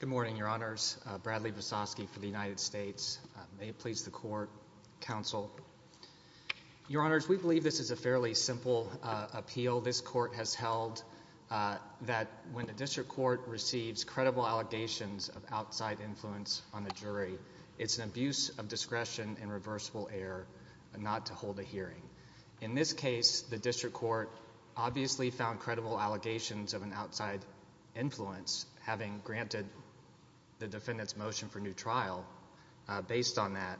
Good morning, Your Honors. Bradley Vesosky for the United States. May it please the Court, Counsel. Your Honors, we believe this is a fairly simple appeal this Court has held, that when the District Court receives credible allegations of outside influence on the jury, it's an In this case, the District Court obviously found credible allegations of an outside influence, having granted the defendant's motion for new trial based on that,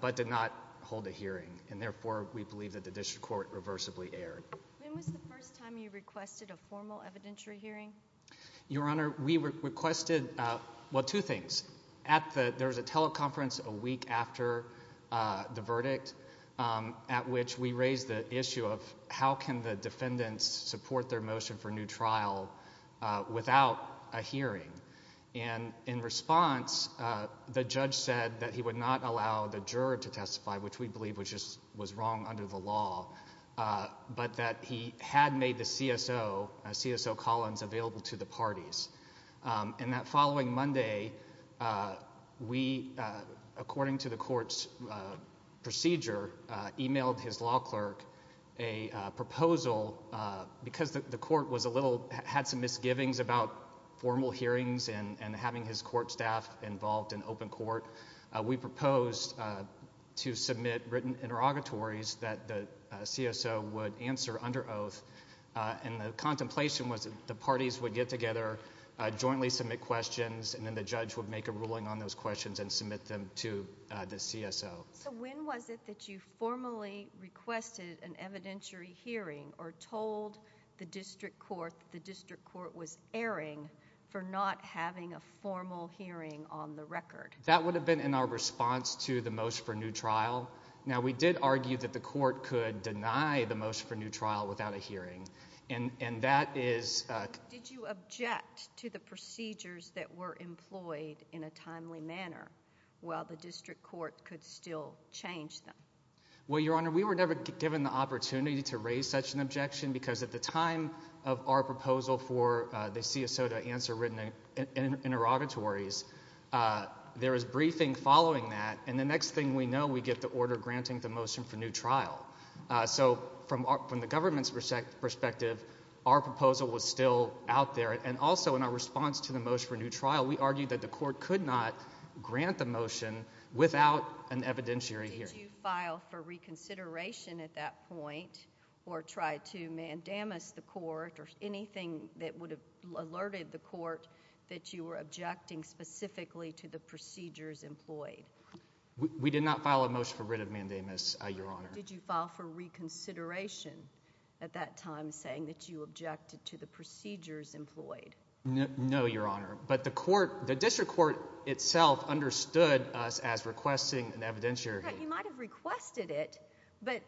but did not hold a hearing. And therefore, we believe that the District Court reversibly erred. When was the first time you requested a formal evidentiary hearing? Your Honor, we requested, well, two things. There was a teleconference a week after the verdict, at which we raised the issue of how can the defendants support their motion for new trial without a hearing. And in response, the judge said that he would not allow the juror to testify, which we believe was wrong under the law, but that he had made the CSO, CSO Collins, available to the parties. And that following Monday, we, according to the Court's procedure, emailed his law clerk a proposal, because the Court was a little, had some misgivings about formal hearings and having his Court staff involved in open court, we proposed to submit written interrogatories that the CSO would answer under oath. And the contemplation was that the parties would get together, jointly submit questions, and then the judge would make a ruling on those questions and submit them to the CSO. So when was it that you formally requested an evidentiary hearing or told the District Court that the District Court was erring for not having a formal hearing on the record? That would have been in our response to the motion for new trial. Now, we did argue that the Court could deny the motion for new trial without a hearing, and that is... Did you object to the procedures that were employed in a timely manner, while the District Court could still change them? Well, Your Honor, we were never given the opportunity to raise such an objection, because at the time of our proposal for the CSO to answer written interrogatories, there was no order granting the motion for new trial. So from the government's perspective, our proposal was still out there, and also in our response to the motion for new trial, we argued that the Court could not grant the motion without an evidentiary hearing. Did you file for reconsideration at that point or try to mandamus the Court or anything that would have alerted the Court that you were objecting specifically to the procedures employed? We did not file a motion for writ of mandamus, Your Honor. Did you file for reconsideration at that time, saying that you objected to the procedures employed? No, Your Honor, but the District Court itself understood us as requesting an evidentiary hearing. You might have requested it, but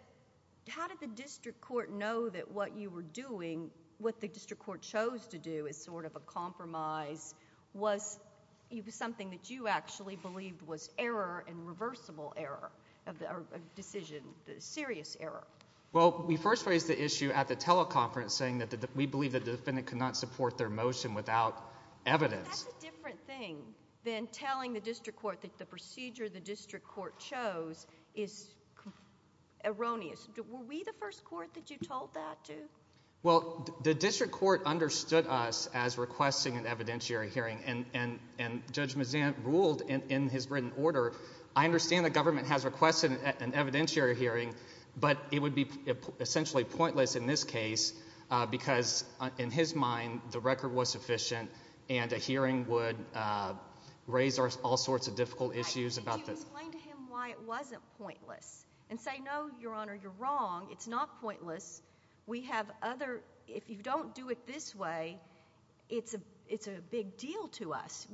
how did the District Court know that what you were doing, what the District Court chose to do as sort of a compromise, was something that you actually believed was error and reversible error, a decision, a serious error? Well, we first raised the issue at the teleconference, saying that we believed that the defendant could not support their motion without evidence. That's a different thing than telling the District Court that the procedure the District Court chose is erroneous. Were we the first Court that you told that to? Well, the District Court understood us as requesting an evidentiary hearing, and Judge Mazzant ruled in his written order, I understand the government has requested an evidentiary hearing, but it would be essentially pointless in this case, because in his mind, the record was sufficient, and a hearing would raise all sorts of difficult issues about this. Could you explain to him why it wasn't pointless, and say, no, Your Honor, you're wrong. It's not pointless. We have other... if you don't do it this way, it's a big deal to us.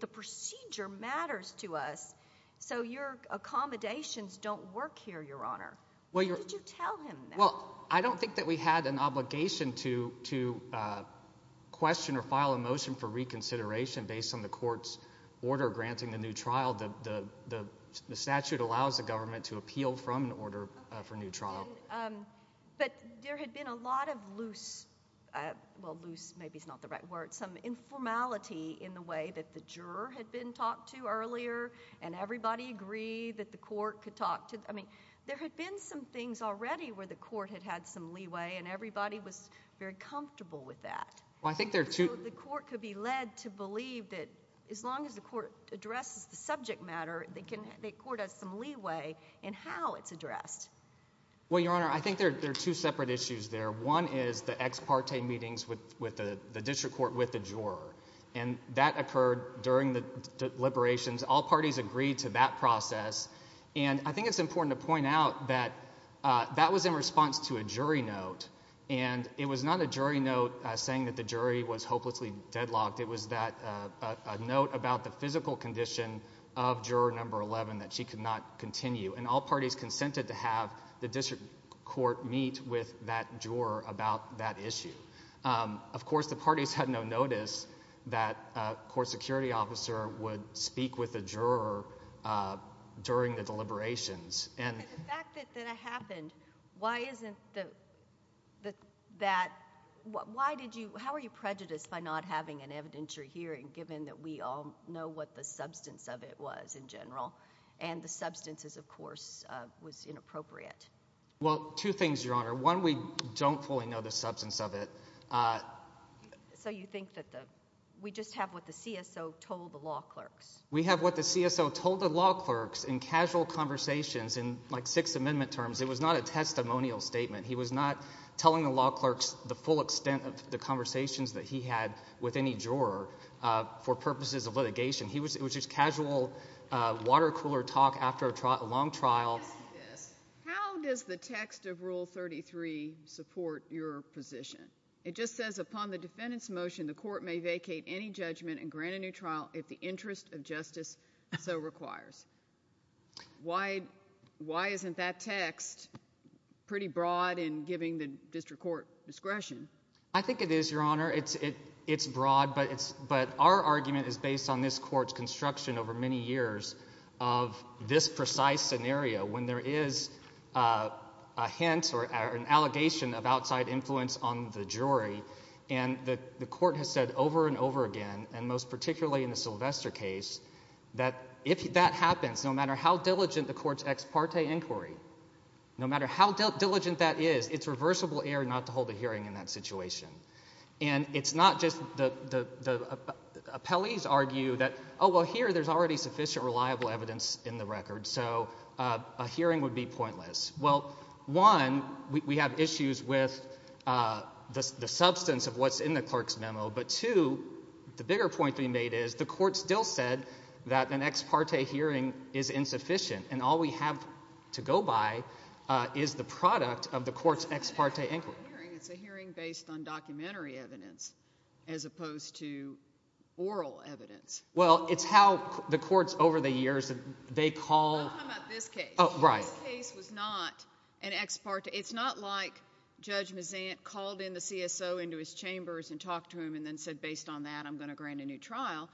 The procedure matters to us, so your accommodations don't work here, Your Honor. What did you tell him then? Well, I don't think that we had an obligation to question or file a motion for reconsideration based on the Court's order granting a new trial. The statute allows the government to appeal from an order for a new trial. But there had been a lot of loose... well, loose maybe is not the right word... some informality in the way that the juror had been talked to earlier, and everybody agreed that the Court could talk to... I mean, there had been some things already where the Court had had some leeway, and everybody was very comfortable with that. Well, I think there are two... So the Court could be led to believe that as long as the Court addresses the subject matter, the Court has some leeway in how it's addressed. Well, Your Honor, I think there are two separate issues there. One is the ex parte meetings with the District Court with the juror, and that occurred during the deliberations. All parties agreed to that process, and I think it's important to point out that that was in response to a jury note, and it was not a jury note saying that the jury was hopelessly deadlocked. It was a note about the physical condition of juror number 11 that she could not continue, and all parties consented to have the District Court meet with that juror about that issue. Of course, the parties had no notice that a court security officer would speak with the juror during the deliberations. The fact that it happened, why isn't that... How are you prejudiced by not having an evidentiary hearing given that we all know what the substance of it was in general, and the substance is, of course, was inappropriate? Well, two things, Your Honor. One, we don't fully know the substance of it. So you think that the... We just have what the CSO told the law clerks. We have what the CSO told the law clerks in casual conversations in, like, Sixth Amendment terms. It was not a testimonial statement. He was not telling the law clerks the full extent of the conversations that he had with any juror for purposes of litigation. It was just casual water-cooler talk after a long trial. How does the text of Rule 33 support your position? It just says, upon the defendant's motion, the court may vacate any judgment and grant a new trial if the interest of justice so requires. Why isn't that text pretty broad in giving the District Court discretion? I think it is, Your Honor. It's broad, but our argument is based on this Court's construction over many years of this precise scenario when there is a hint or an allegation of outside influence on the jury, and the Court has said over and over again, and most particularly in the Sylvester case, that if that happens, no matter how diligent the Court's ex parte inquiry, no matter how And it's not just the appellees argue that, oh, well, here there's already sufficient reliable evidence in the record, so a hearing would be pointless. Well, one, we have issues with the substance of what's in the clerk's memo, but two, the bigger point to be made is the Court still said that an ex parte hearing is insufficient, and all we have to go by is the product of the Court's ex parte inquiry. It's a hearing based on documentary evidence as opposed to oral evidence. Well, it's how the Courts over the years, they call I'm talking about this case. Oh, right. This case was not an ex parte. It's not like Judge Mazant called in the CSO into his chambers and talked to him and then said based on that, I'm going to grant a new trial.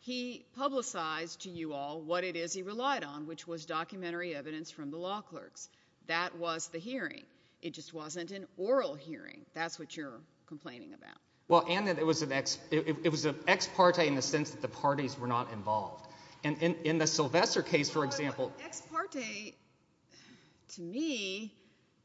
He publicized to you all what it is he relied on, which was documentary evidence from the law clerks. That was the hearing. It just wasn't an oral hearing. That's what you're complaining about. Well, and that it was an ex, it was an ex parte in the sense that the parties were not involved. And, and in the Sylvester case, for example. Ex parte to me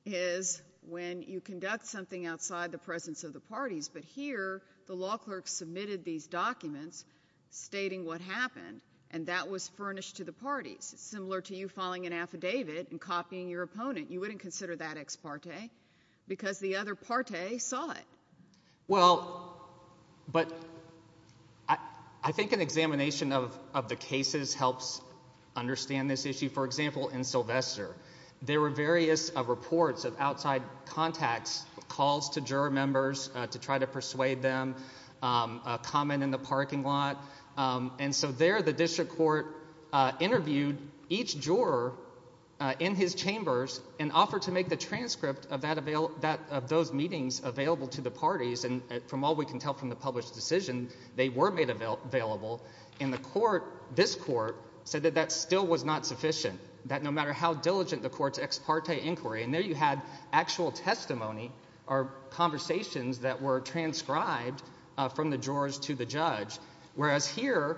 is when you conduct something outside the presence of the parties, but here the law clerks submitted these documents stating what happened, and that was furnished to the parties. It's similar to you filing an affidavit and copying your opponent. You wouldn't consider that ex parte because the other parte saw it. Well, but I think an examination of the cases helps understand this issue. For example, in Sylvester, there were various reports of outside contacts, calls to juror members to try to persuade them, a comment in the parking lot. And so there, the district court interviewed each juror in his chambers and offered to make the transcript of that, of those meetings available to the parties. And from all we can tell from the published decision, they were made available. In the court, this court said that that still was not sufficient. That no matter how diligent the court's ex parte inquiry, and there you had actual testimony or conversations that were transcribed from the jurors to the judge, whereas here,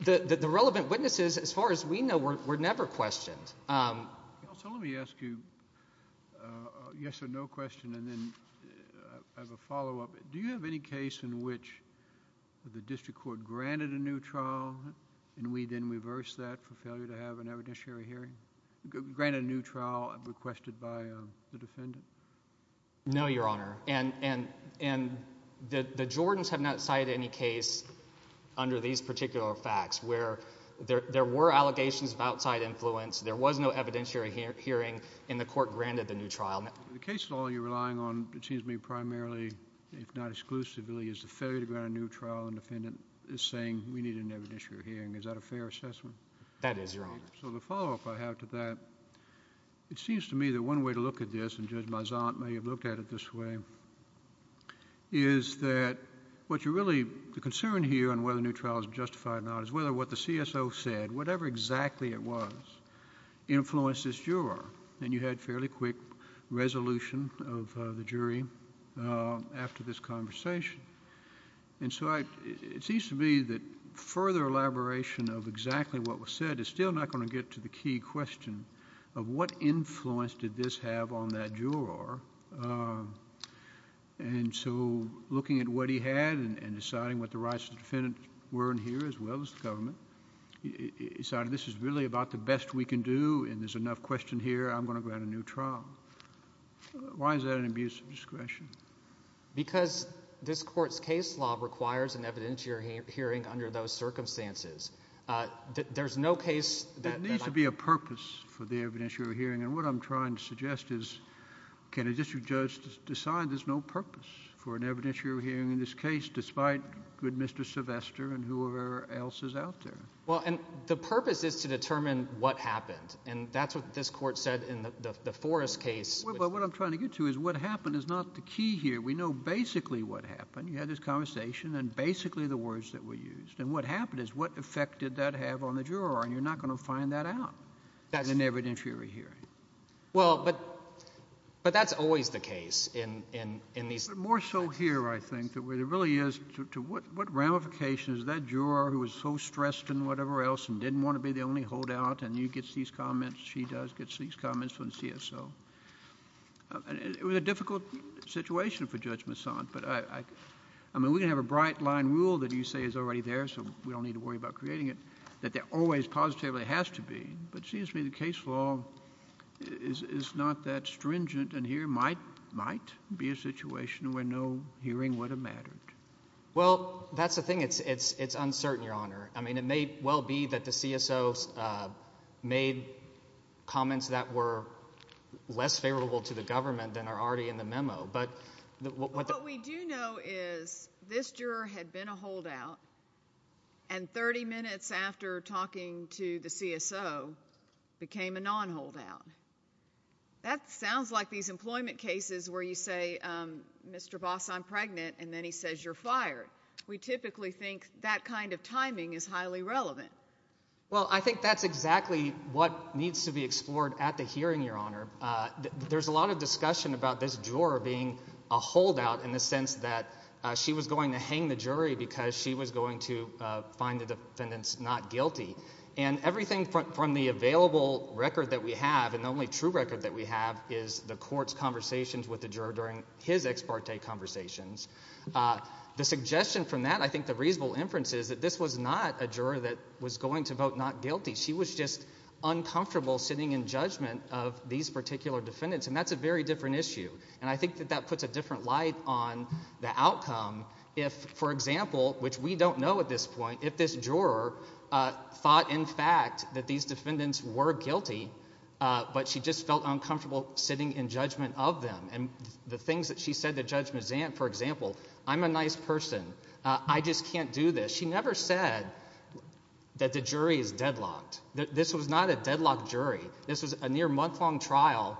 the relevant witnesses, as far as we know, were never questioned. So let me ask you a yes or no question, and then I have a follow-up. Do you have any case in which the district court granted a new trial and we then reversed that for failure to have an evidentiary hearing, granted a new trial and requested by the defendant? No, Your Honor, and the Jordans have not cited any case under these particular facts where there were allegations of outside influence, there was no evidentiary hearing, and the court granted the new trial. In the case at all you're relying on, it seems to me, primarily, if not exclusively, is the failure to grant a new trial and the defendant is saying, we need an evidentiary hearing. Is that a fair assessment? That is, Your Honor. So the follow-up I have to that, it seems to me that one way to look at this, and Judge Maisant may have looked at it this way, is that what you're really, the concern here on whether a new trial is justified or not is whether what the CSO said, whatever exactly it was, influenced this juror, and you had fairly quick resolution of the jury after this conversation, and so it seems to me that further elaboration of exactly what was said is still not going to get to the key question of what influence did this have on that juror, and so looking at what he had and deciding what the rights of the defendant were in here as well as the government, he decided this is really about the best we can do and there's enough question here, I'm going to grant a new trial. Why is that an abuse of discretion? Because this court's case law requires an evidentiary hearing under those circumstances. There's no case that I can't... There needs to be a purpose for the evidentiary hearing, and what I'm trying to suggest is can a district judge decide there's no purpose for an evidentiary hearing in this case despite good Mr. Sylvester and whoever else is out there? Well, and the purpose is to determine what happened, and that's what this court said in the Forrest case... Well, what I'm trying to get to is what happened is not the key here. We know basically what happened. You had this conversation and basically the words that were used, and what happened is what effect did that have on the juror, and you're not going to find that out in an evidentiary hearing. Well, but that's always the case in these... More so here, I think, where it really is to what ramifications that juror who was so stressed and whatever else and didn't want to be the only holdout and he gets these comments, she does, gets these comments from the CSO, and it was a difficult situation for Judge Masson, but I mean, we can have a bright line rule that you say is already there so we don't need to worry about creating it, that there always positively has to be, but it seems to me the case law is not that stringent, and here might be a situation where no hearing would have mattered. Well, that's the thing. It's uncertain, Your Honor. I mean, it may well be that the CSO made comments that were less favorable to the government than are already in the memo, but... What we do know is this juror had been a holdout and 30 minutes after talking to the CSO became a non-holdout. That sounds like these employment cases where you say, Mr. Boss, I'm pregnant, and then he says you're fired. We typically think that kind of timing is highly relevant. Well, I think that's exactly what needs to be explored at the hearing, Your Honor. There's a lot of discussion about this juror being a holdout in the sense that she was going to hang the jury because she was going to find the defendants not guilty. And everything from the available record that we have and the only true record that we have is the court's conversations with the juror during his ex parte conversations. The suggestion from that, I think the reasonable inference is that this was not a juror that was going to vote not guilty. She was just uncomfortable sitting in judgment of these particular defendants, and that's a very different issue. And I think that that puts a different light on the outcome if, for example, which we don't know at this point, if this juror thought, in fact, that these defendants were guilty, but she just felt uncomfortable sitting in judgment of them. And the things that she said to Judge Mazant, for example, I'm a nice person. I just can't do this. She never said that the jury is deadlocked. This was not a deadlocked jury. This was a near month-long trial,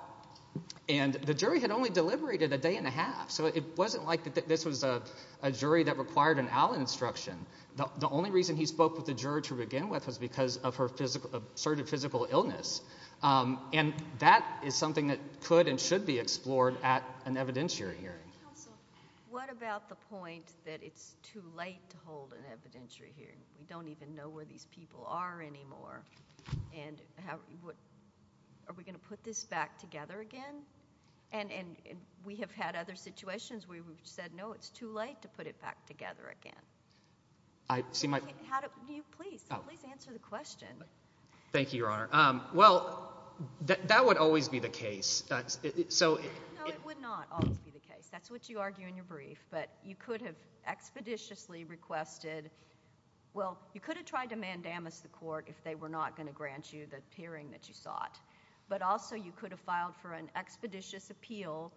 and the jury had only deliberated a day and a half. So it wasn't like this was a jury that required an owl instruction. The only reason he spoke with the juror to begin with was because of her assertive physical illness. And that is something that could and should be explored at an evidentiary hearing. Your Honor, what about the point that it's too late to hold an evidentiary hearing? We don't even know where these people are anymore, and are we going to put this back together again? And we have had other situations where we've said, no, it's too late to put it back together again. How do you please, please answer the question. Thank you, Your Honor. Well, that would always be the case. No, it would not always be the case. That's what you argue in your brief. But you could have expeditiously requested, well, you could have tried to mandamus the court if they were not going to grant you the hearing that you sought. But also, you could have filed for an expeditious appeal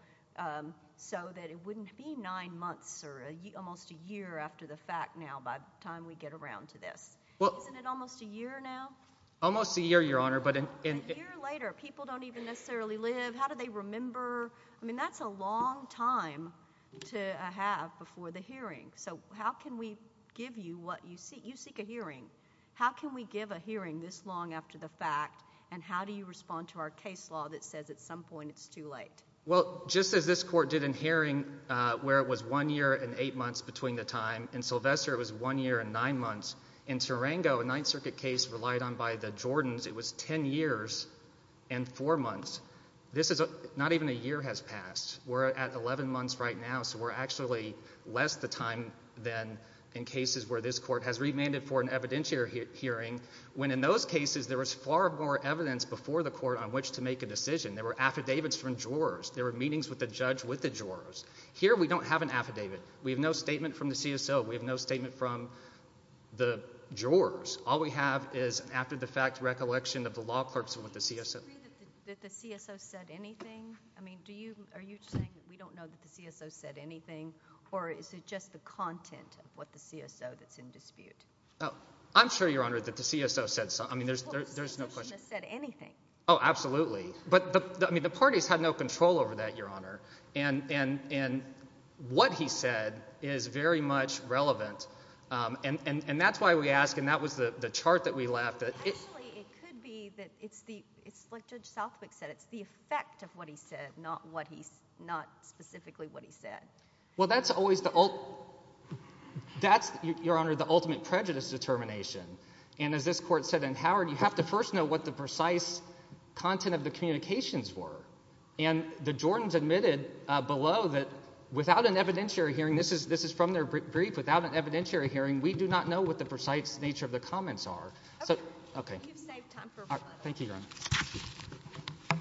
so that it wouldn't be nine months or almost a year after the fact now by the time we get around to this. Isn't it almost a year now? Almost a year, Your Honor. A year later, people don't even necessarily live. How do they remember? I mean, that's a long time to have before the hearing. So how can we give you what you seek? You seek a hearing. How can we give a hearing this long after the fact? And how do you respond to our case law that says at some point it's too late? Well, just as this court did in Haring where it was one year and eight months between the time, in Sylvester it was one year and nine months. In Tarango, a Ninth Circuit case relied on by the Jordans, it was ten years and four months. This is not even a year has passed. We're at 11 months right now, so we're actually less the time than in cases where this court has remanded for an evidentiary hearing when in those cases there was far more evidence before the court on which to make a decision. There were affidavits from jurors. There were meetings with the judge with the jurors. Here we don't have an affidavit. We have no statement from the CSO. We have no statement from the jurors. All we have is an after-the-fact recollection of the law clerks with the CSO. Do you agree that the CSO said anything? I mean, are you saying that we don't know that the CSO said anything, or is it just the content of what the CSO that's in dispute? I'm sure, Your Honor, that the CSO said something. I mean, there's no question. Well, the CSO shouldn't have said anything. Oh, absolutely. But, I mean, the parties had no control over that, Your Honor, and what he said is very much relevant, and that's why we ask, and that was the chart that we left. Actually, it could be that it's the, it's like Judge Southwick said, it's the effect of what he said, not what he, not specifically what he said. Well, that's always the, that's, Your Honor, the ultimate prejudice determination, and as this Court said in Howard, you have to first know what the precise content of the communications were, and the Jordans admitted below that without an evidentiary hearing, this is from their brief, without an evidentiary hearing, we do not know what the precise nature of the comments are. Okay. You've saved time for one other. Thank you, Your Honor.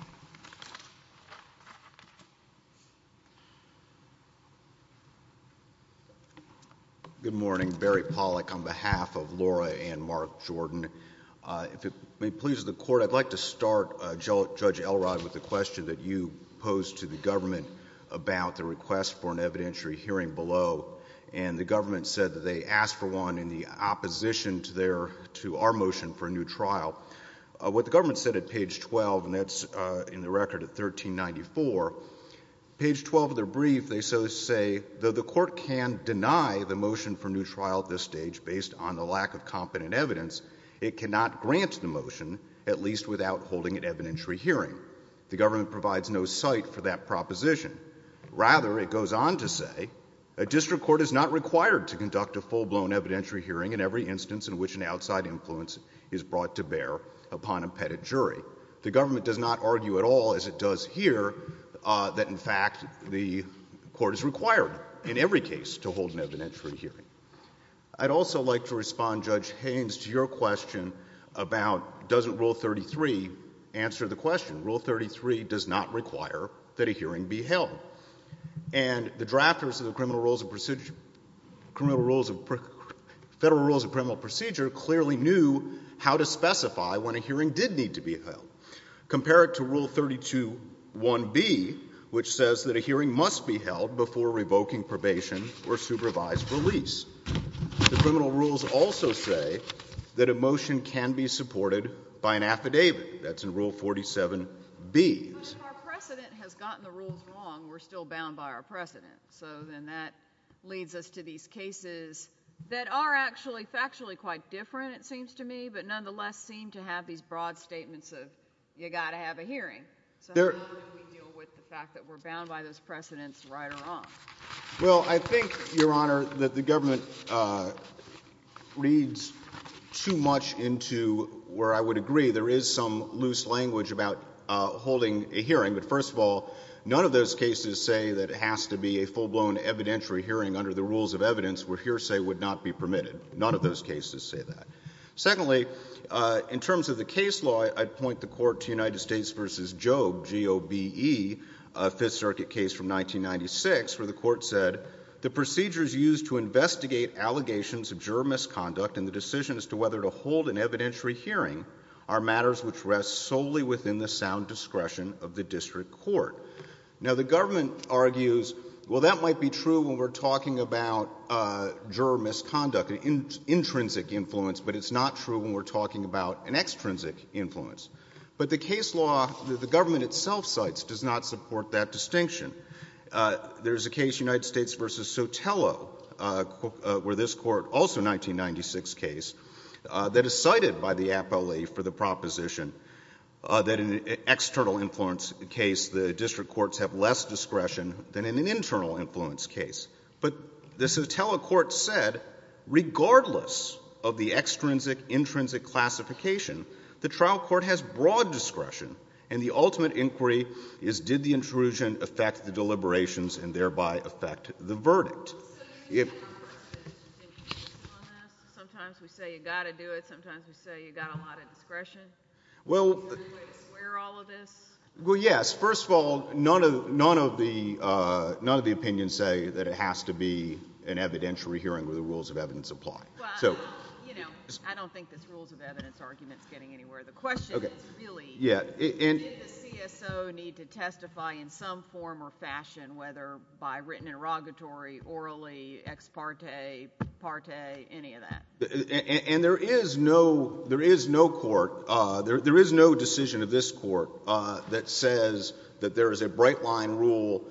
Good morning. Barry Pollack on behalf of Laura and Mark Jordan. If it may please the Court, I'd like to start, Judge Elrod, with the question that you posed to the government about the request for an evidentiary hearing below, and the government said that they asked for one in the opposition to their, to our motion for a new trial. What the government said at page 12, and that's in the record at 1394, page 12 of their brief, they so say, though the Court can deny the motion for a new trial at this stage based on the lack of competent evidence, it cannot grant the motion, at least without holding an evidentiary hearing. The government provides no cite for that proposition. Rather, it goes on to say, a district court is not required to conduct a full-blown evidentiary hearing in every instance in which an outside influence is brought to bear upon a pettit jury. The government does not argue at all, as it does here, that in fact the Court is required in every case to hold an evidentiary hearing. I'd also like to respond, Judge Haynes, to your question about doesn't Rule 33 answer the question. Rule 33 does not require that a hearing be held. And the drafters of the Criminal Rules of Procedure, Criminal Rules of, Federal Rules of Criminal Procedure clearly knew how to specify when a hearing did need to be held. Compare it to Rule 32.1b, which says that a hearing must be held before revoking probation or supervised release. The criminal rules also say that a motion can be supported by an affidavit. That's in Rule 47b. But if our precedent has gotten the rules wrong, we're still bound by our precedent. So then that leads us to these cases that are actually factually quite different, it seems to me, but nonetheless seem to have these broad statements of you've got to have a hearing. So how do we deal with the fact that we're bound by those precedents, right or wrong? Well, I think, Your Honor, that the government reads too much into where I would agree there is some loose language about holding a hearing. But first of all, none of those cases say that it has to be a full-blown evidentiary hearing under the rules of evidence where hearsay would not be permitted. None of those cases say that. Secondly, in terms of the case law, I'd point the Court to United States v. Jobe, a Fifth Circuit case from 1996, where the Court said, the procedures used to investigate allegations of juror misconduct and the decision as to whether to hold an evidentiary hearing are matters which rest solely within the sound discretion of the district court. Now, the government argues, well, that might be true when we're talking about juror misconduct, an intrinsic influence, but it's not true when we're talking about an extrinsic influence. But the case law that the government itself cites does not support that distinction. There is a case, United States v. Sotelo, where this Court, also a 1996 case, that is a cappelli for the proposition that in an external influence case, the district courts have less discretion than in an internal influence case. But the Sotelo Court said, regardless of the extrinsic, intrinsic classification, the trial court has broad discretion, and the ultimate inquiry is, did the intrusion on this? Sometimes we say you've got to do it. Sometimes we say you've got a lot of discretion. Are you going to swear all of this? Well, yes. First of all, none of the opinions say that it has to be an evidentiary hearing where the rules of evidence apply. Well, you know, I don't think this rules of evidence argument is getting anywhere. The question is, really, did the CSO need to testify in some form or fashion, whether I don't know. I don't know. I don't know. I don't know. I don't know. I don't know. I don't know. They don't have to be literally, ex parte, part a, any of that. And there is no court. There is no decision of this court that says that there is a bright line rule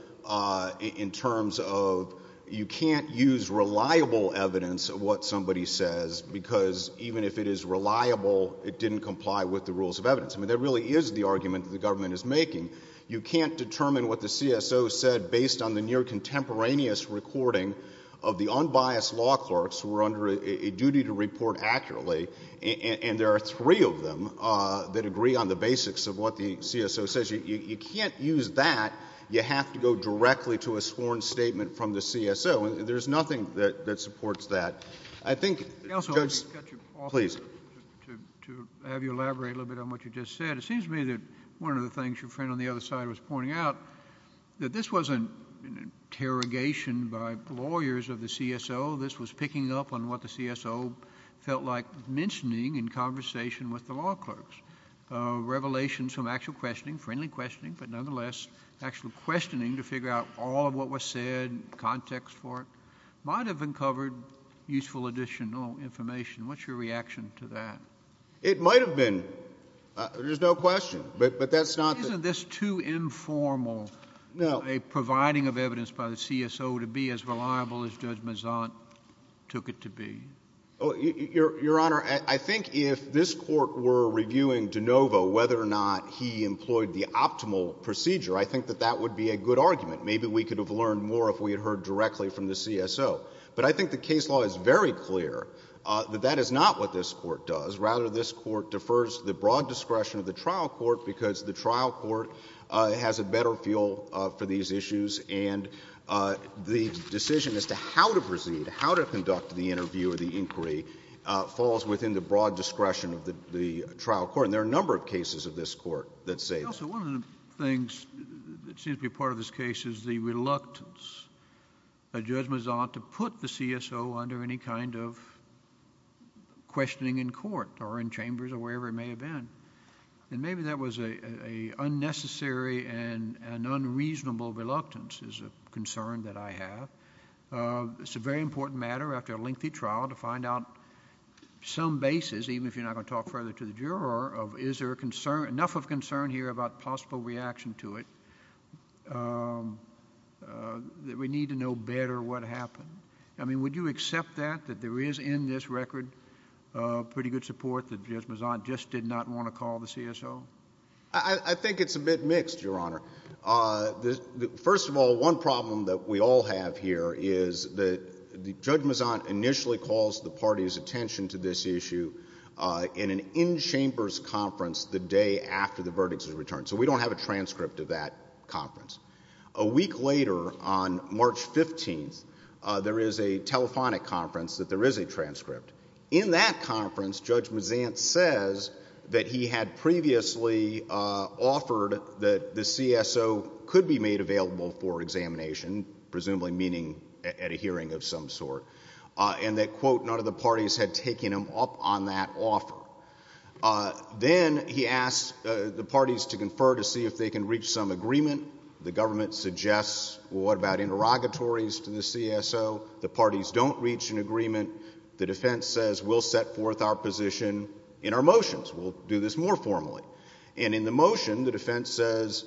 in terms of you can't use reliable evidence of what somebody says, because even if it is reliable, it didn't comply with the rules of evidence. I mean, that really is the argument that the government is making. You can't determine what the CSO said based on the near contemporaneous recording of the unbiased law clerks who are under a duty to report accurately. And there are three of them that agree on the basics of what the CSO says. You can't use that. You have to go directly to a sworn statement from the CSO. There's nothing that supports that. I think, Judge, please. I also want to cut you off to have you elaborate a little bit on what you just said. It seems to me that one of the things your friend on the other side was pointing out, that this wasn't an interrogation by lawyers of the CSO. This was picking up on what the CSO felt like mentioning in conversation with the law clerks. Revelations from actual questioning, friendly questioning, but nonetheless, actual questioning to figure out all of what was said, context for it, might have uncovered useful additional information. What's your reaction to that? It might have been. There's no question. But that's not the— Isn't this too informal— No. —a providing of evidence by the CSO to be as reliable as Judge Mazzant took it to be? Your Honor, I think if this Court were reviewing DeNovo, whether or not he employed the optimal procedure, I think that that would be a good argument. Maybe we could have learned more if we had heard directly from the CSO. But I think the case law is very clear that that is not what this Court does. Rather, this Court defers the broad discretion of the trial court because the trial court has a better feel for these issues, and the decision as to how to proceed, how to conduct the interview or the inquiry, falls within the broad discretion of the trial court. And there are a number of cases of this Court that say that. Counsel, one of the things that seems to be part of this case is the reluctance of Judge Mazzant to do so under any kind of questioning in court or in chambers or wherever it may have been. And maybe that was a unnecessary and unreasonable reluctance is a concern that I have. It's a very important matter after a lengthy trial to find out some basis, even if you're not going to talk further to the juror, of is there enough of concern here about possible reaction to it that we need to know better what happened. I mean, would you accept that, that there is in this record pretty good support that Judge Mazzant just did not want to call the CSO? I think it's a bit mixed, Your Honor. First of all, one problem that we all have here is that Judge Mazzant initially calls the party's attention to this issue in an in-chambers conference the day after the verdict is returned. So we don't have a transcript of that conference. A week later, on March 15th, there is a telephonic conference that there is a transcript. In that conference, Judge Mazzant says that he had previously offered that the CSO could be made available for examination, presumably meaning at a hearing of some sort, and that, quote, none of the parties had taken him up on that offer. Then he asks the parties to confer to see if they can reach some agreement. The government suggests, well, what about interrogatories to the CSO? The parties don't reach an agreement. The defense says, we'll set forth our position in our motions, we'll do this more formally. And in the motion, the defense says,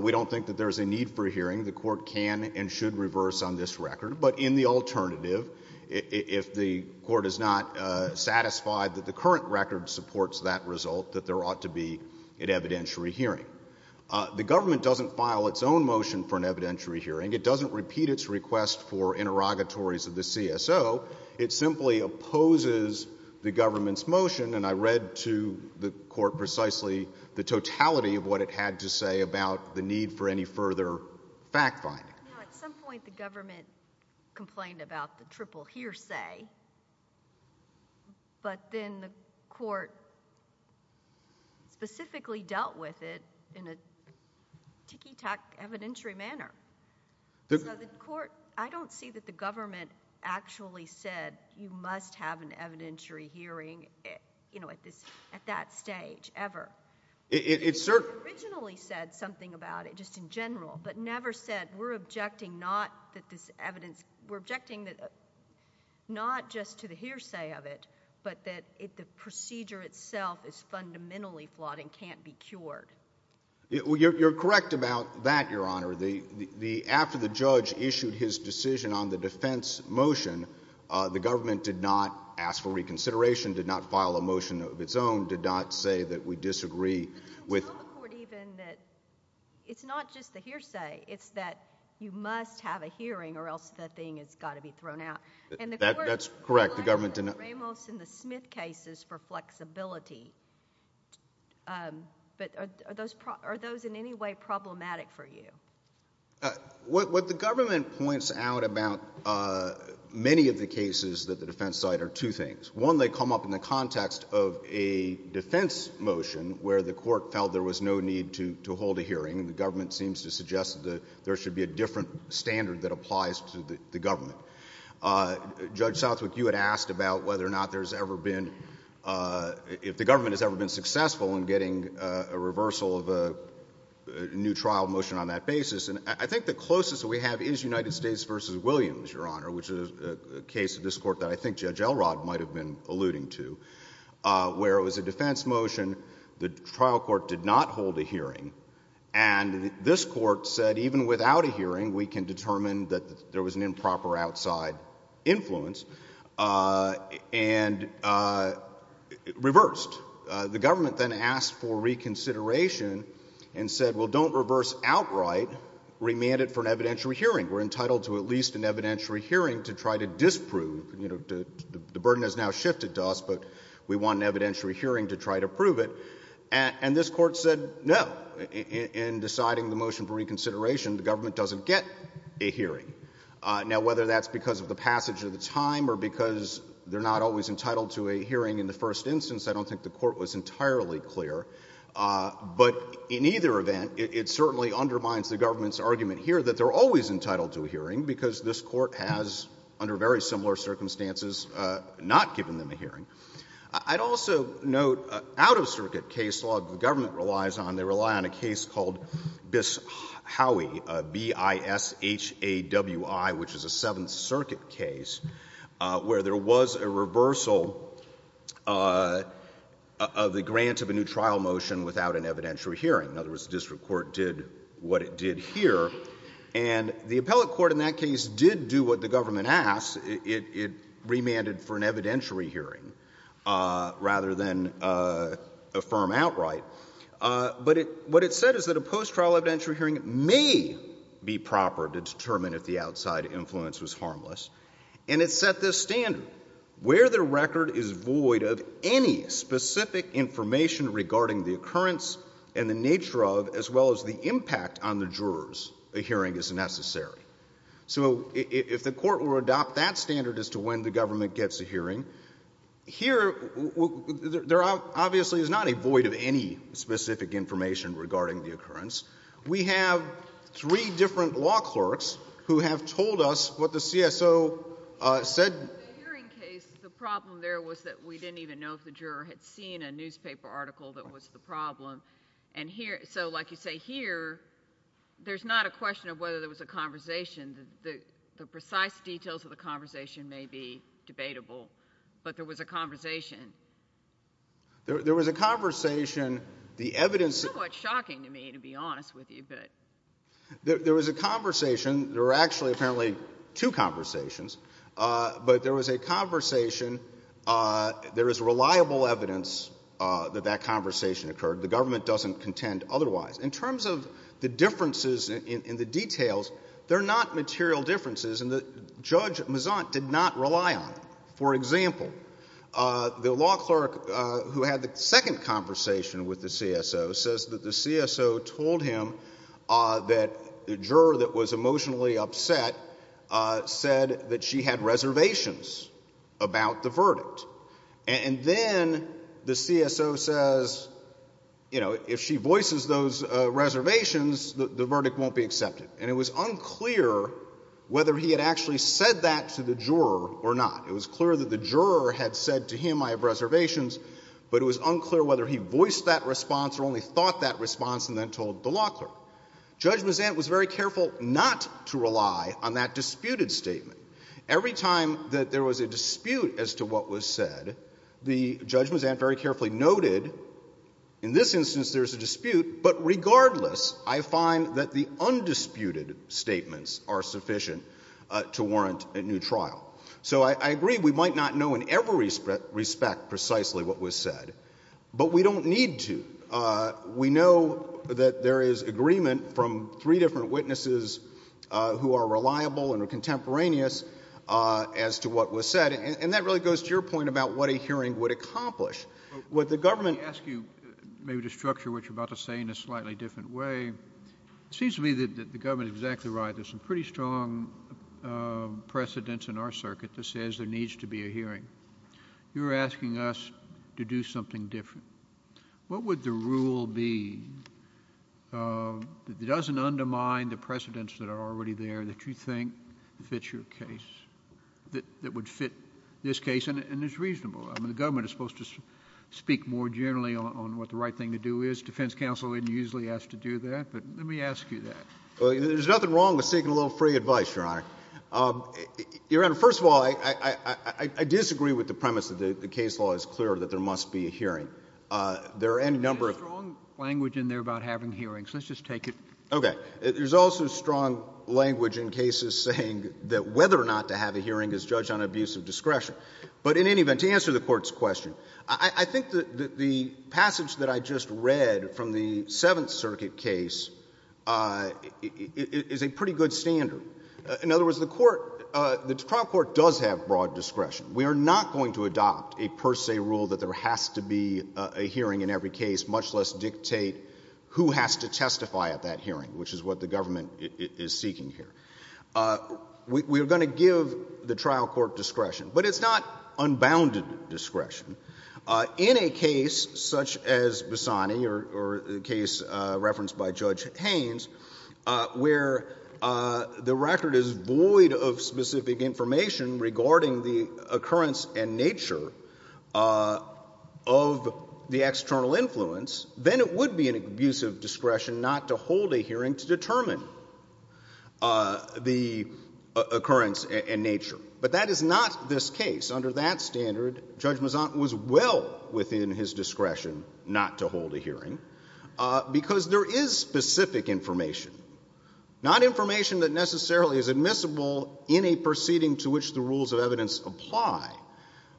we don't think that there is a need for a hearing. The court can and should reverse on this record. But in the alternative, if the court is not satisfied that the current record supports that result, that there ought to be an evidentiary hearing. The government doesn't file its own motion for an evidentiary hearing. It doesn't repeat its request for interrogatories of the CSO. It simply opposes the government's motion. And I read to the court precisely the totality of what it had to say about the need for any further fact-finding. At some point, the government complained about the triple hearsay. But then the court specifically dealt with it in a ticky-tock evidentiary manner. I don't see that the government actually said, you must have an evidentiary hearing at that stage, ever. It originally said something about it, just in general, but never said, we're objecting not that this evidence, we're objecting not just to the hearsay of it, but that the procedure itself is fundamentally flawed and can't be cured. You're correct about that, Your Honor. After the judge issued his decision on the defense motion, the government did not ask for reconsideration, did not file a motion of its own, did not say that we disagree with... Could you tell the court even that it's not just the hearsay, it's that you must have a hearing or else the thing has got to be thrown out? And the court... That's correct. The government...... in the Smith cases for flexibility, but are those in any way problematic for you? What the government points out about many of the cases at the defense side are two things. One, they come up in the context of a defense motion where the court felt there was no need to hold a hearing, and the government seems to suggest that there should be a different standard that applies to the government. Judge Southwick, you had asked about whether or not there's ever been... if the government has ever been successful in getting a reversal of a new trial motion on that basis. I think the closest we have is United States v. Williams, Your Honor, which is a case of this court that I think Judge Elrod might have been alluding to, where it was a defense motion, the trial court did not hold a hearing, and this court said even without a hearing, we can determine that there was an improper outside influence, and it reversed. The government then asked for reconsideration and said, well, don't reverse outright, remand it for an evidentiary hearing. We're entitled to at least an evidentiary hearing to try to disprove... the burden has now shifted to us, but we want an evidentiary hearing to try to prove it, and this court said no. But in deciding the motion for reconsideration, the government doesn't get a hearing. Now whether that's because of the passage of the time or because they're not always entitled to a hearing in the first instance, I don't think the court was entirely clear. But in either event, it certainly undermines the government's argument here that they're always entitled to a hearing because this court has, under very similar circumstances, not given them a hearing. I'd also note out-of-circuit case law that the government relies on, they rely on a case called Bishawi, B-I-S-H-A-W-I, which is a Seventh Circuit case, where there was a reversal of the grant of a new trial motion without an evidentiary hearing. In other words, the district court did what it did here, and the appellate court in that case did do what the government asked. It remanded for an evidentiary hearing rather than affirm outright. But what it said is that a post-trial evidentiary hearing may be proper to determine if the outside influence was harmless, and it set this standard. Where the record is void of any specific information regarding the occurrence and the nature of, as well as the impact on the jurors, a hearing is necessary. So if the court were to adopt that standard as to when the government gets a hearing, here there obviously is not a void of any specific information regarding the occurrence. We have three different law clerks who have told us what the CSO said. In the hearing case, the problem there was that we didn't even know if the juror had seen a newspaper article that was the problem. And here, so like you say here, there's not a question of whether there was a conversation. The precise details of the conversation may be debatable, but there was a conversation. There was a conversation. The evidence... It's somewhat shocking to me, to be honest with you, but... There was a conversation. There were actually apparently two conversations, but there was a conversation. There is reliable evidence that that conversation occurred. The government doesn't contend otherwise. In terms of the differences in the details, they're not material differences, and Judge Mazzant did not rely on them. For example, the law clerk who had the second conversation with the CSO says that the CSO told him that the juror that was emotionally upset said that she had reservations about the verdict. And then the CSO says, you know, if she voices those reservations, the verdict won't be accepted. And it was unclear whether he had actually said that to the juror or not. It was clear that the juror had said to him, I have reservations, but it was unclear whether he voiced that response or only thought that response and then told the law clerk. Judge Mazzant was very careful not to rely on that disputed statement. Every time that there was a dispute as to what was said, the Judge Mazzant very carefully noted in this instance there's a dispute, but regardless, I find that the undisputed statements are sufficient to warrant a new trial. So I agree we might not know in every respect precisely what was said, but we don't need to. We know that there is agreement from three different witnesses who are reliable and are contemporaneous as to what was said. And that really goes to your point about what a hearing would accomplish. Would the government— Let me ask you maybe to structure what you're about to say in a slightly different way. It seems to me that the government is exactly right. There's some pretty strong precedents in our circuit that says there needs to be a hearing. You're asking us to do something different. What would the rule be that doesn't undermine the precedents that are already there that you think fits your case, that would fit this case and is reasonable? I mean, the government is supposed to speak more generally on what the right thing to do is. Defense counsel isn't usually asked to do that, but let me ask you that. Well, there's nothing wrong with seeking a little free advice, Your Honor. First of all, I disagree with the premise that the case law is clear that there must be a hearing. There are any number of— There's strong language in there about having hearings. Let's just take it— Okay. There's also strong language in cases saying that whether or not to have a hearing is judged on abuse of discretion. But in any event, to answer the Court's question, I think that the passage that I just read from the Seventh Circuit case is a pretty good standard. In other words, the trial court does have broad discretion. We are not going to adopt a per se rule that there has to be a hearing in every case, much less dictate who has to testify at that hearing, which is what the government is seeking here. We are going to give the trial court discretion, but it's not unbounded discretion. In a case such as Bassani or a case referenced by Judge Haynes, where the record is void of specific information regarding the occurrence and nature of the external influence, then it would be an abuse of discretion not to hold a hearing to determine the occurrence and nature. But that is not this case. Under that standard, Judge Mazzant was well within his discretion not to hold a hearing because there is specific information. Not information that necessarily is admissible in a proceeding to which the rules of evidence apply,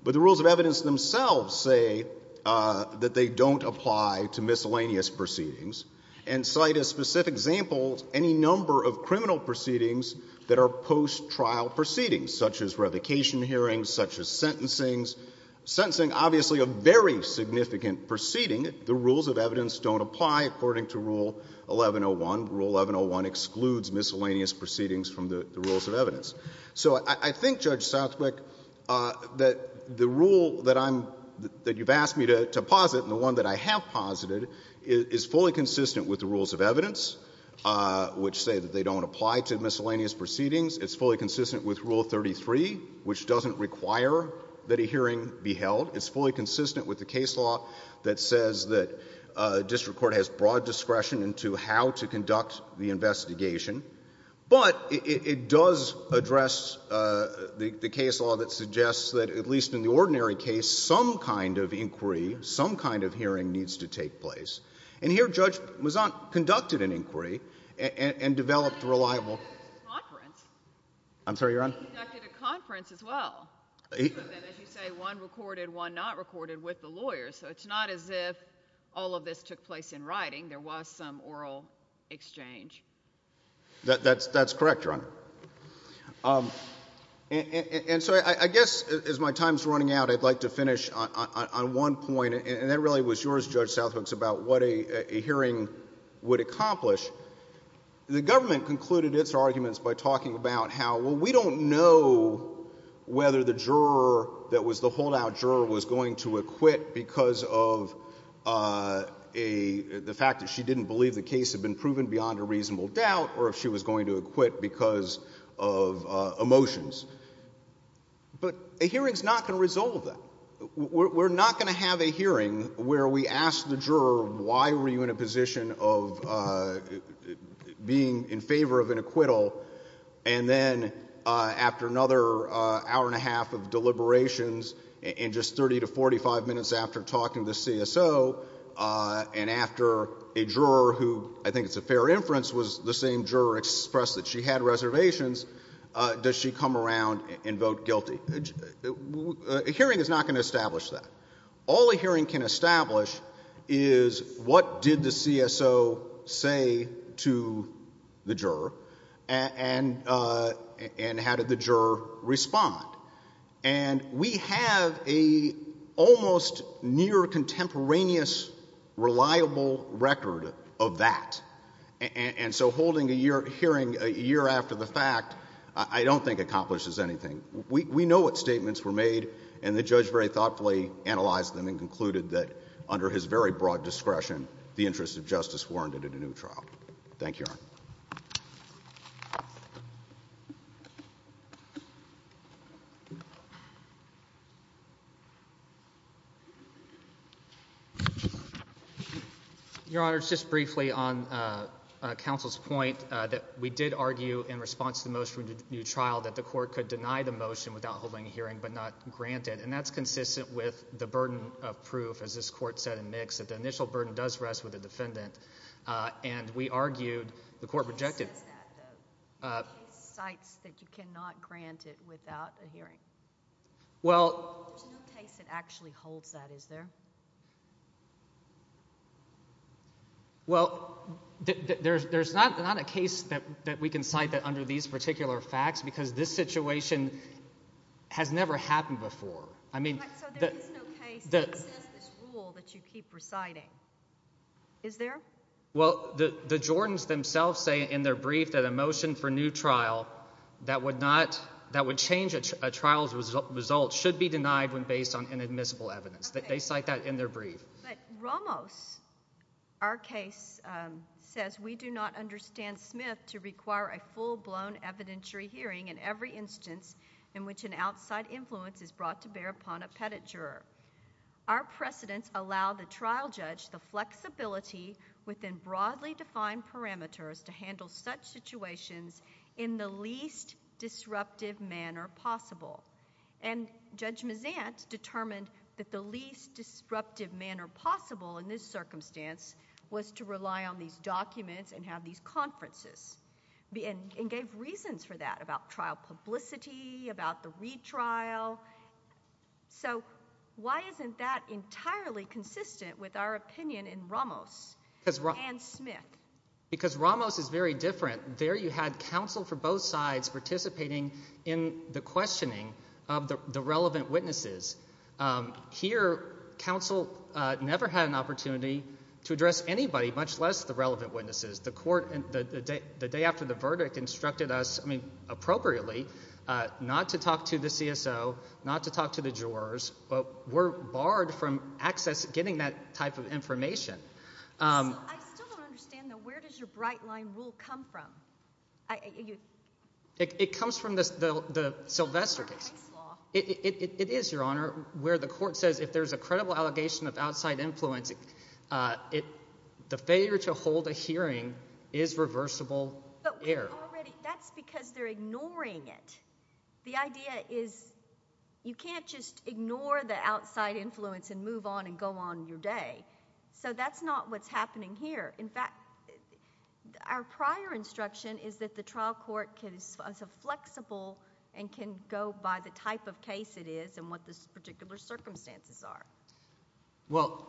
but the rules of evidence themselves say that they don't apply to miscellaneous proceedings and cite as specific examples any number of criminal proceedings that are post-trial proceedings, such as revocation hearings, such as sentencings, sentencing obviously a very significant proceeding. The rules of evidence don't apply according to Rule 1101. Rule 1101 excludes miscellaneous proceedings from the rules of evidence. So I think, Judge Southwick, that the rule that you've asked me to posit and the one that I have posited is fully consistent with the rules of evidence, which say that they don't apply to miscellaneous proceedings. It's fully consistent with Rule 33, which doesn't require that a hearing be held. It's fully consistent with the case law that says that district court has broad discretion into how to conduct the investigation. But it does address the case law that suggests that, at least in the ordinary case, some kind of inquiry, some kind of hearing needs to take place. And here, Judge Mazzant conducted an inquiry and developed a reliable ---- That's correct, Your Honor. And so I guess, as my time's running out, I'd like to finish on one point, and that really was yours, Judge Southwick, about what a hearing would accomplish. The government concluded its arguments by talking about how, well, we don't know whether the juror that was the holdout juror was going to acquit because of the fact that she didn't believe the case had been proven beyond a reasonable doubt or if she was going to acquit because of emotions. But a hearing's not going to resolve that. We're not going to have a hearing where we ask the juror, why were you in a position of being in favor of an acquittal? And then, after another hour and a half of deliberations and just 30 to 45 minutes after talking to CSO and after a juror who, I think it's a fair inference, was the same juror expressed that she had reservations, does she come around and vote guilty? A hearing is not going to establish that. All a hearing can establish is what did the CSO say to the juror and how did the juror respond? And we have a almost near contemporaneous reliable record of that. And so holding a hearing a year after the fact I don't think accomplishes anything. We know what statements were made and the judge very thoughtfully analyzed them and concluded that under his very broad discretion the interest of justice warranted a new trial. Thank you, Your Honor. Your Honor, just briefly on counsel's point that we did argue in response to the motion for a new trial that the court could deny the motion without holding a hearing but not grant it. And that's consistent with the burden of proof, as this Court said in Mix, that the initial burden does rest with the defendant. And we argued, the Court rejected... Who says that, though? The case cites that you cannot grant it without a hearing. Well... There's no case that actually holds that, is there? Well, there's not a case that we can cite that under these particular facts because this situation has never happened before. I mean... So there is no case that says this rule that you keep reciting, is there? Well, the Jordans themselves say in their brief that a motion for new trial that would change a trial's result should be denied when based on inadmissible evidence. They cite that in their brief. But Ramos, our case, says we do not understand Smith to require a full-blown evidentiary hearing in every instance in which an outside influence is brought to bear upon a petit juror. Our precedents allow the trial judge the flexibility within broadly defined parameters to handle such situations in the least disruptive manner possible. And Judge Mazant determined that the least disruptive manner possible in this circumstance was to rely on these documents and have these conferences and gave reasons for that about trial publicity, about the retrial. So why isn't that entirely consistent with our opinion in Ramos and Smith? Because Ramos is very different. There you had counsel for both sides participating in the questioning of the relevant witnesses. Here counsel never had an opportunity to address anybody, much less the relevant witnesses. The court, the day after the verdict, instructed us, I mean, appropriately, not to talk to the CSO, not to talk to the jurors. But we're barred from access, getting that type of information. So I still don't understand, though, where does your bright line rule come from? It comes from the Sylvester case. It is, Your Honor, where the court says if there's a credible allegation of outside influence, the failure to hold a hearing is reversible error. That's because they're ignoring it. The idea is you can't just ignore the outside influence and move on and go on your day. So that's not what's happening here. In fact, our prior instruction is that the trial court is flexible and can go by the type of case it is and what the particular circumstances are. Well,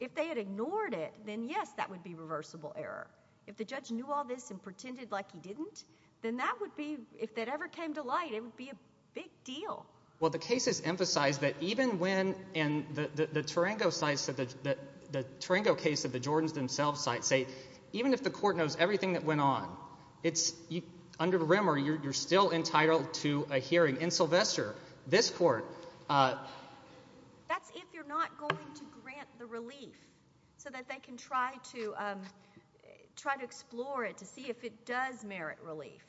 if they had ignored it, then yes, that would be reversible error. If the judge knew all this and pretended like he didn't, then that would be, if that ever came to light, it would be a big deal. Well, the cases emphasize that even when, and the Tarango case of the Jordans themselves say, even if the court knows everything that went on, under the rimmer, you're still entitled to a hearing. In Sylvester, this court... That's if you're not going to grant the relief so that they can try to explore it to see if it does merit relief.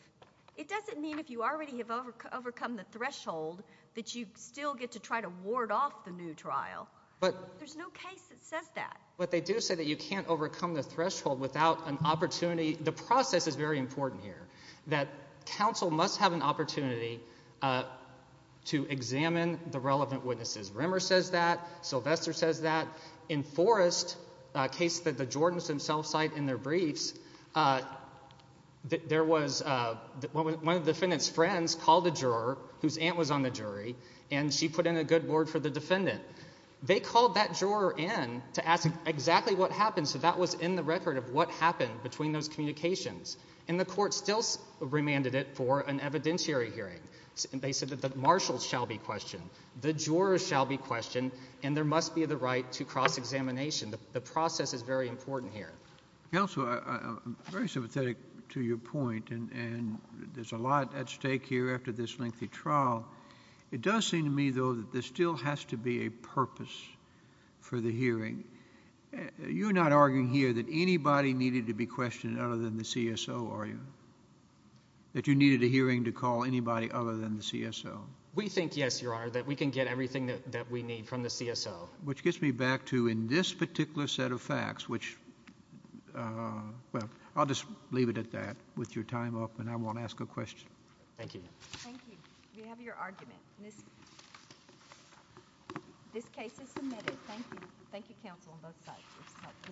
It doesn't mean if you already have overcome the threshold that you still get to try to ward off the new trial. There's no case that says that. But they do say that you can't overcome the threshold without an opportunity. The process is very important here, that counsel must have an opportunity to examine the relevant witnesses. Rimmer says that. Sylvester says that. In Forrest, a case that the Jordans themselves cite in their briefs, one of the defendant's friends called the juror, whose aunt was on the jury, and she put in a good word for the defendant. They called that juror in to ask exactly what happened, so that was in the record of what happened between those communications. The court still remanded it for an evidentiary hearing. They said that the marshals shall be questioned, the jurors shall be questioned, and there was a cross-examination. The process is very important here. Counsel, I'm very sympathetic to your point, and there's a lot at stake here after this lengthy trial. It does seem to me, though, that there still has to be a purpose for the hearing. You're not arguing here that anybody needed to be questioned other than the CSO, are you? That you needed a hearing to call anybody other than the CSO? We think, yes, Your Honor, that we can get everything that we need from the CSO. Which gets me back to, in this particular set of facts, which, well, I'll just leave it at that with your time up, and I won't ask a question. Thank you. Thank you. We have your argument. This case is submitted. Thank you. Thank you, counsel, on both sides.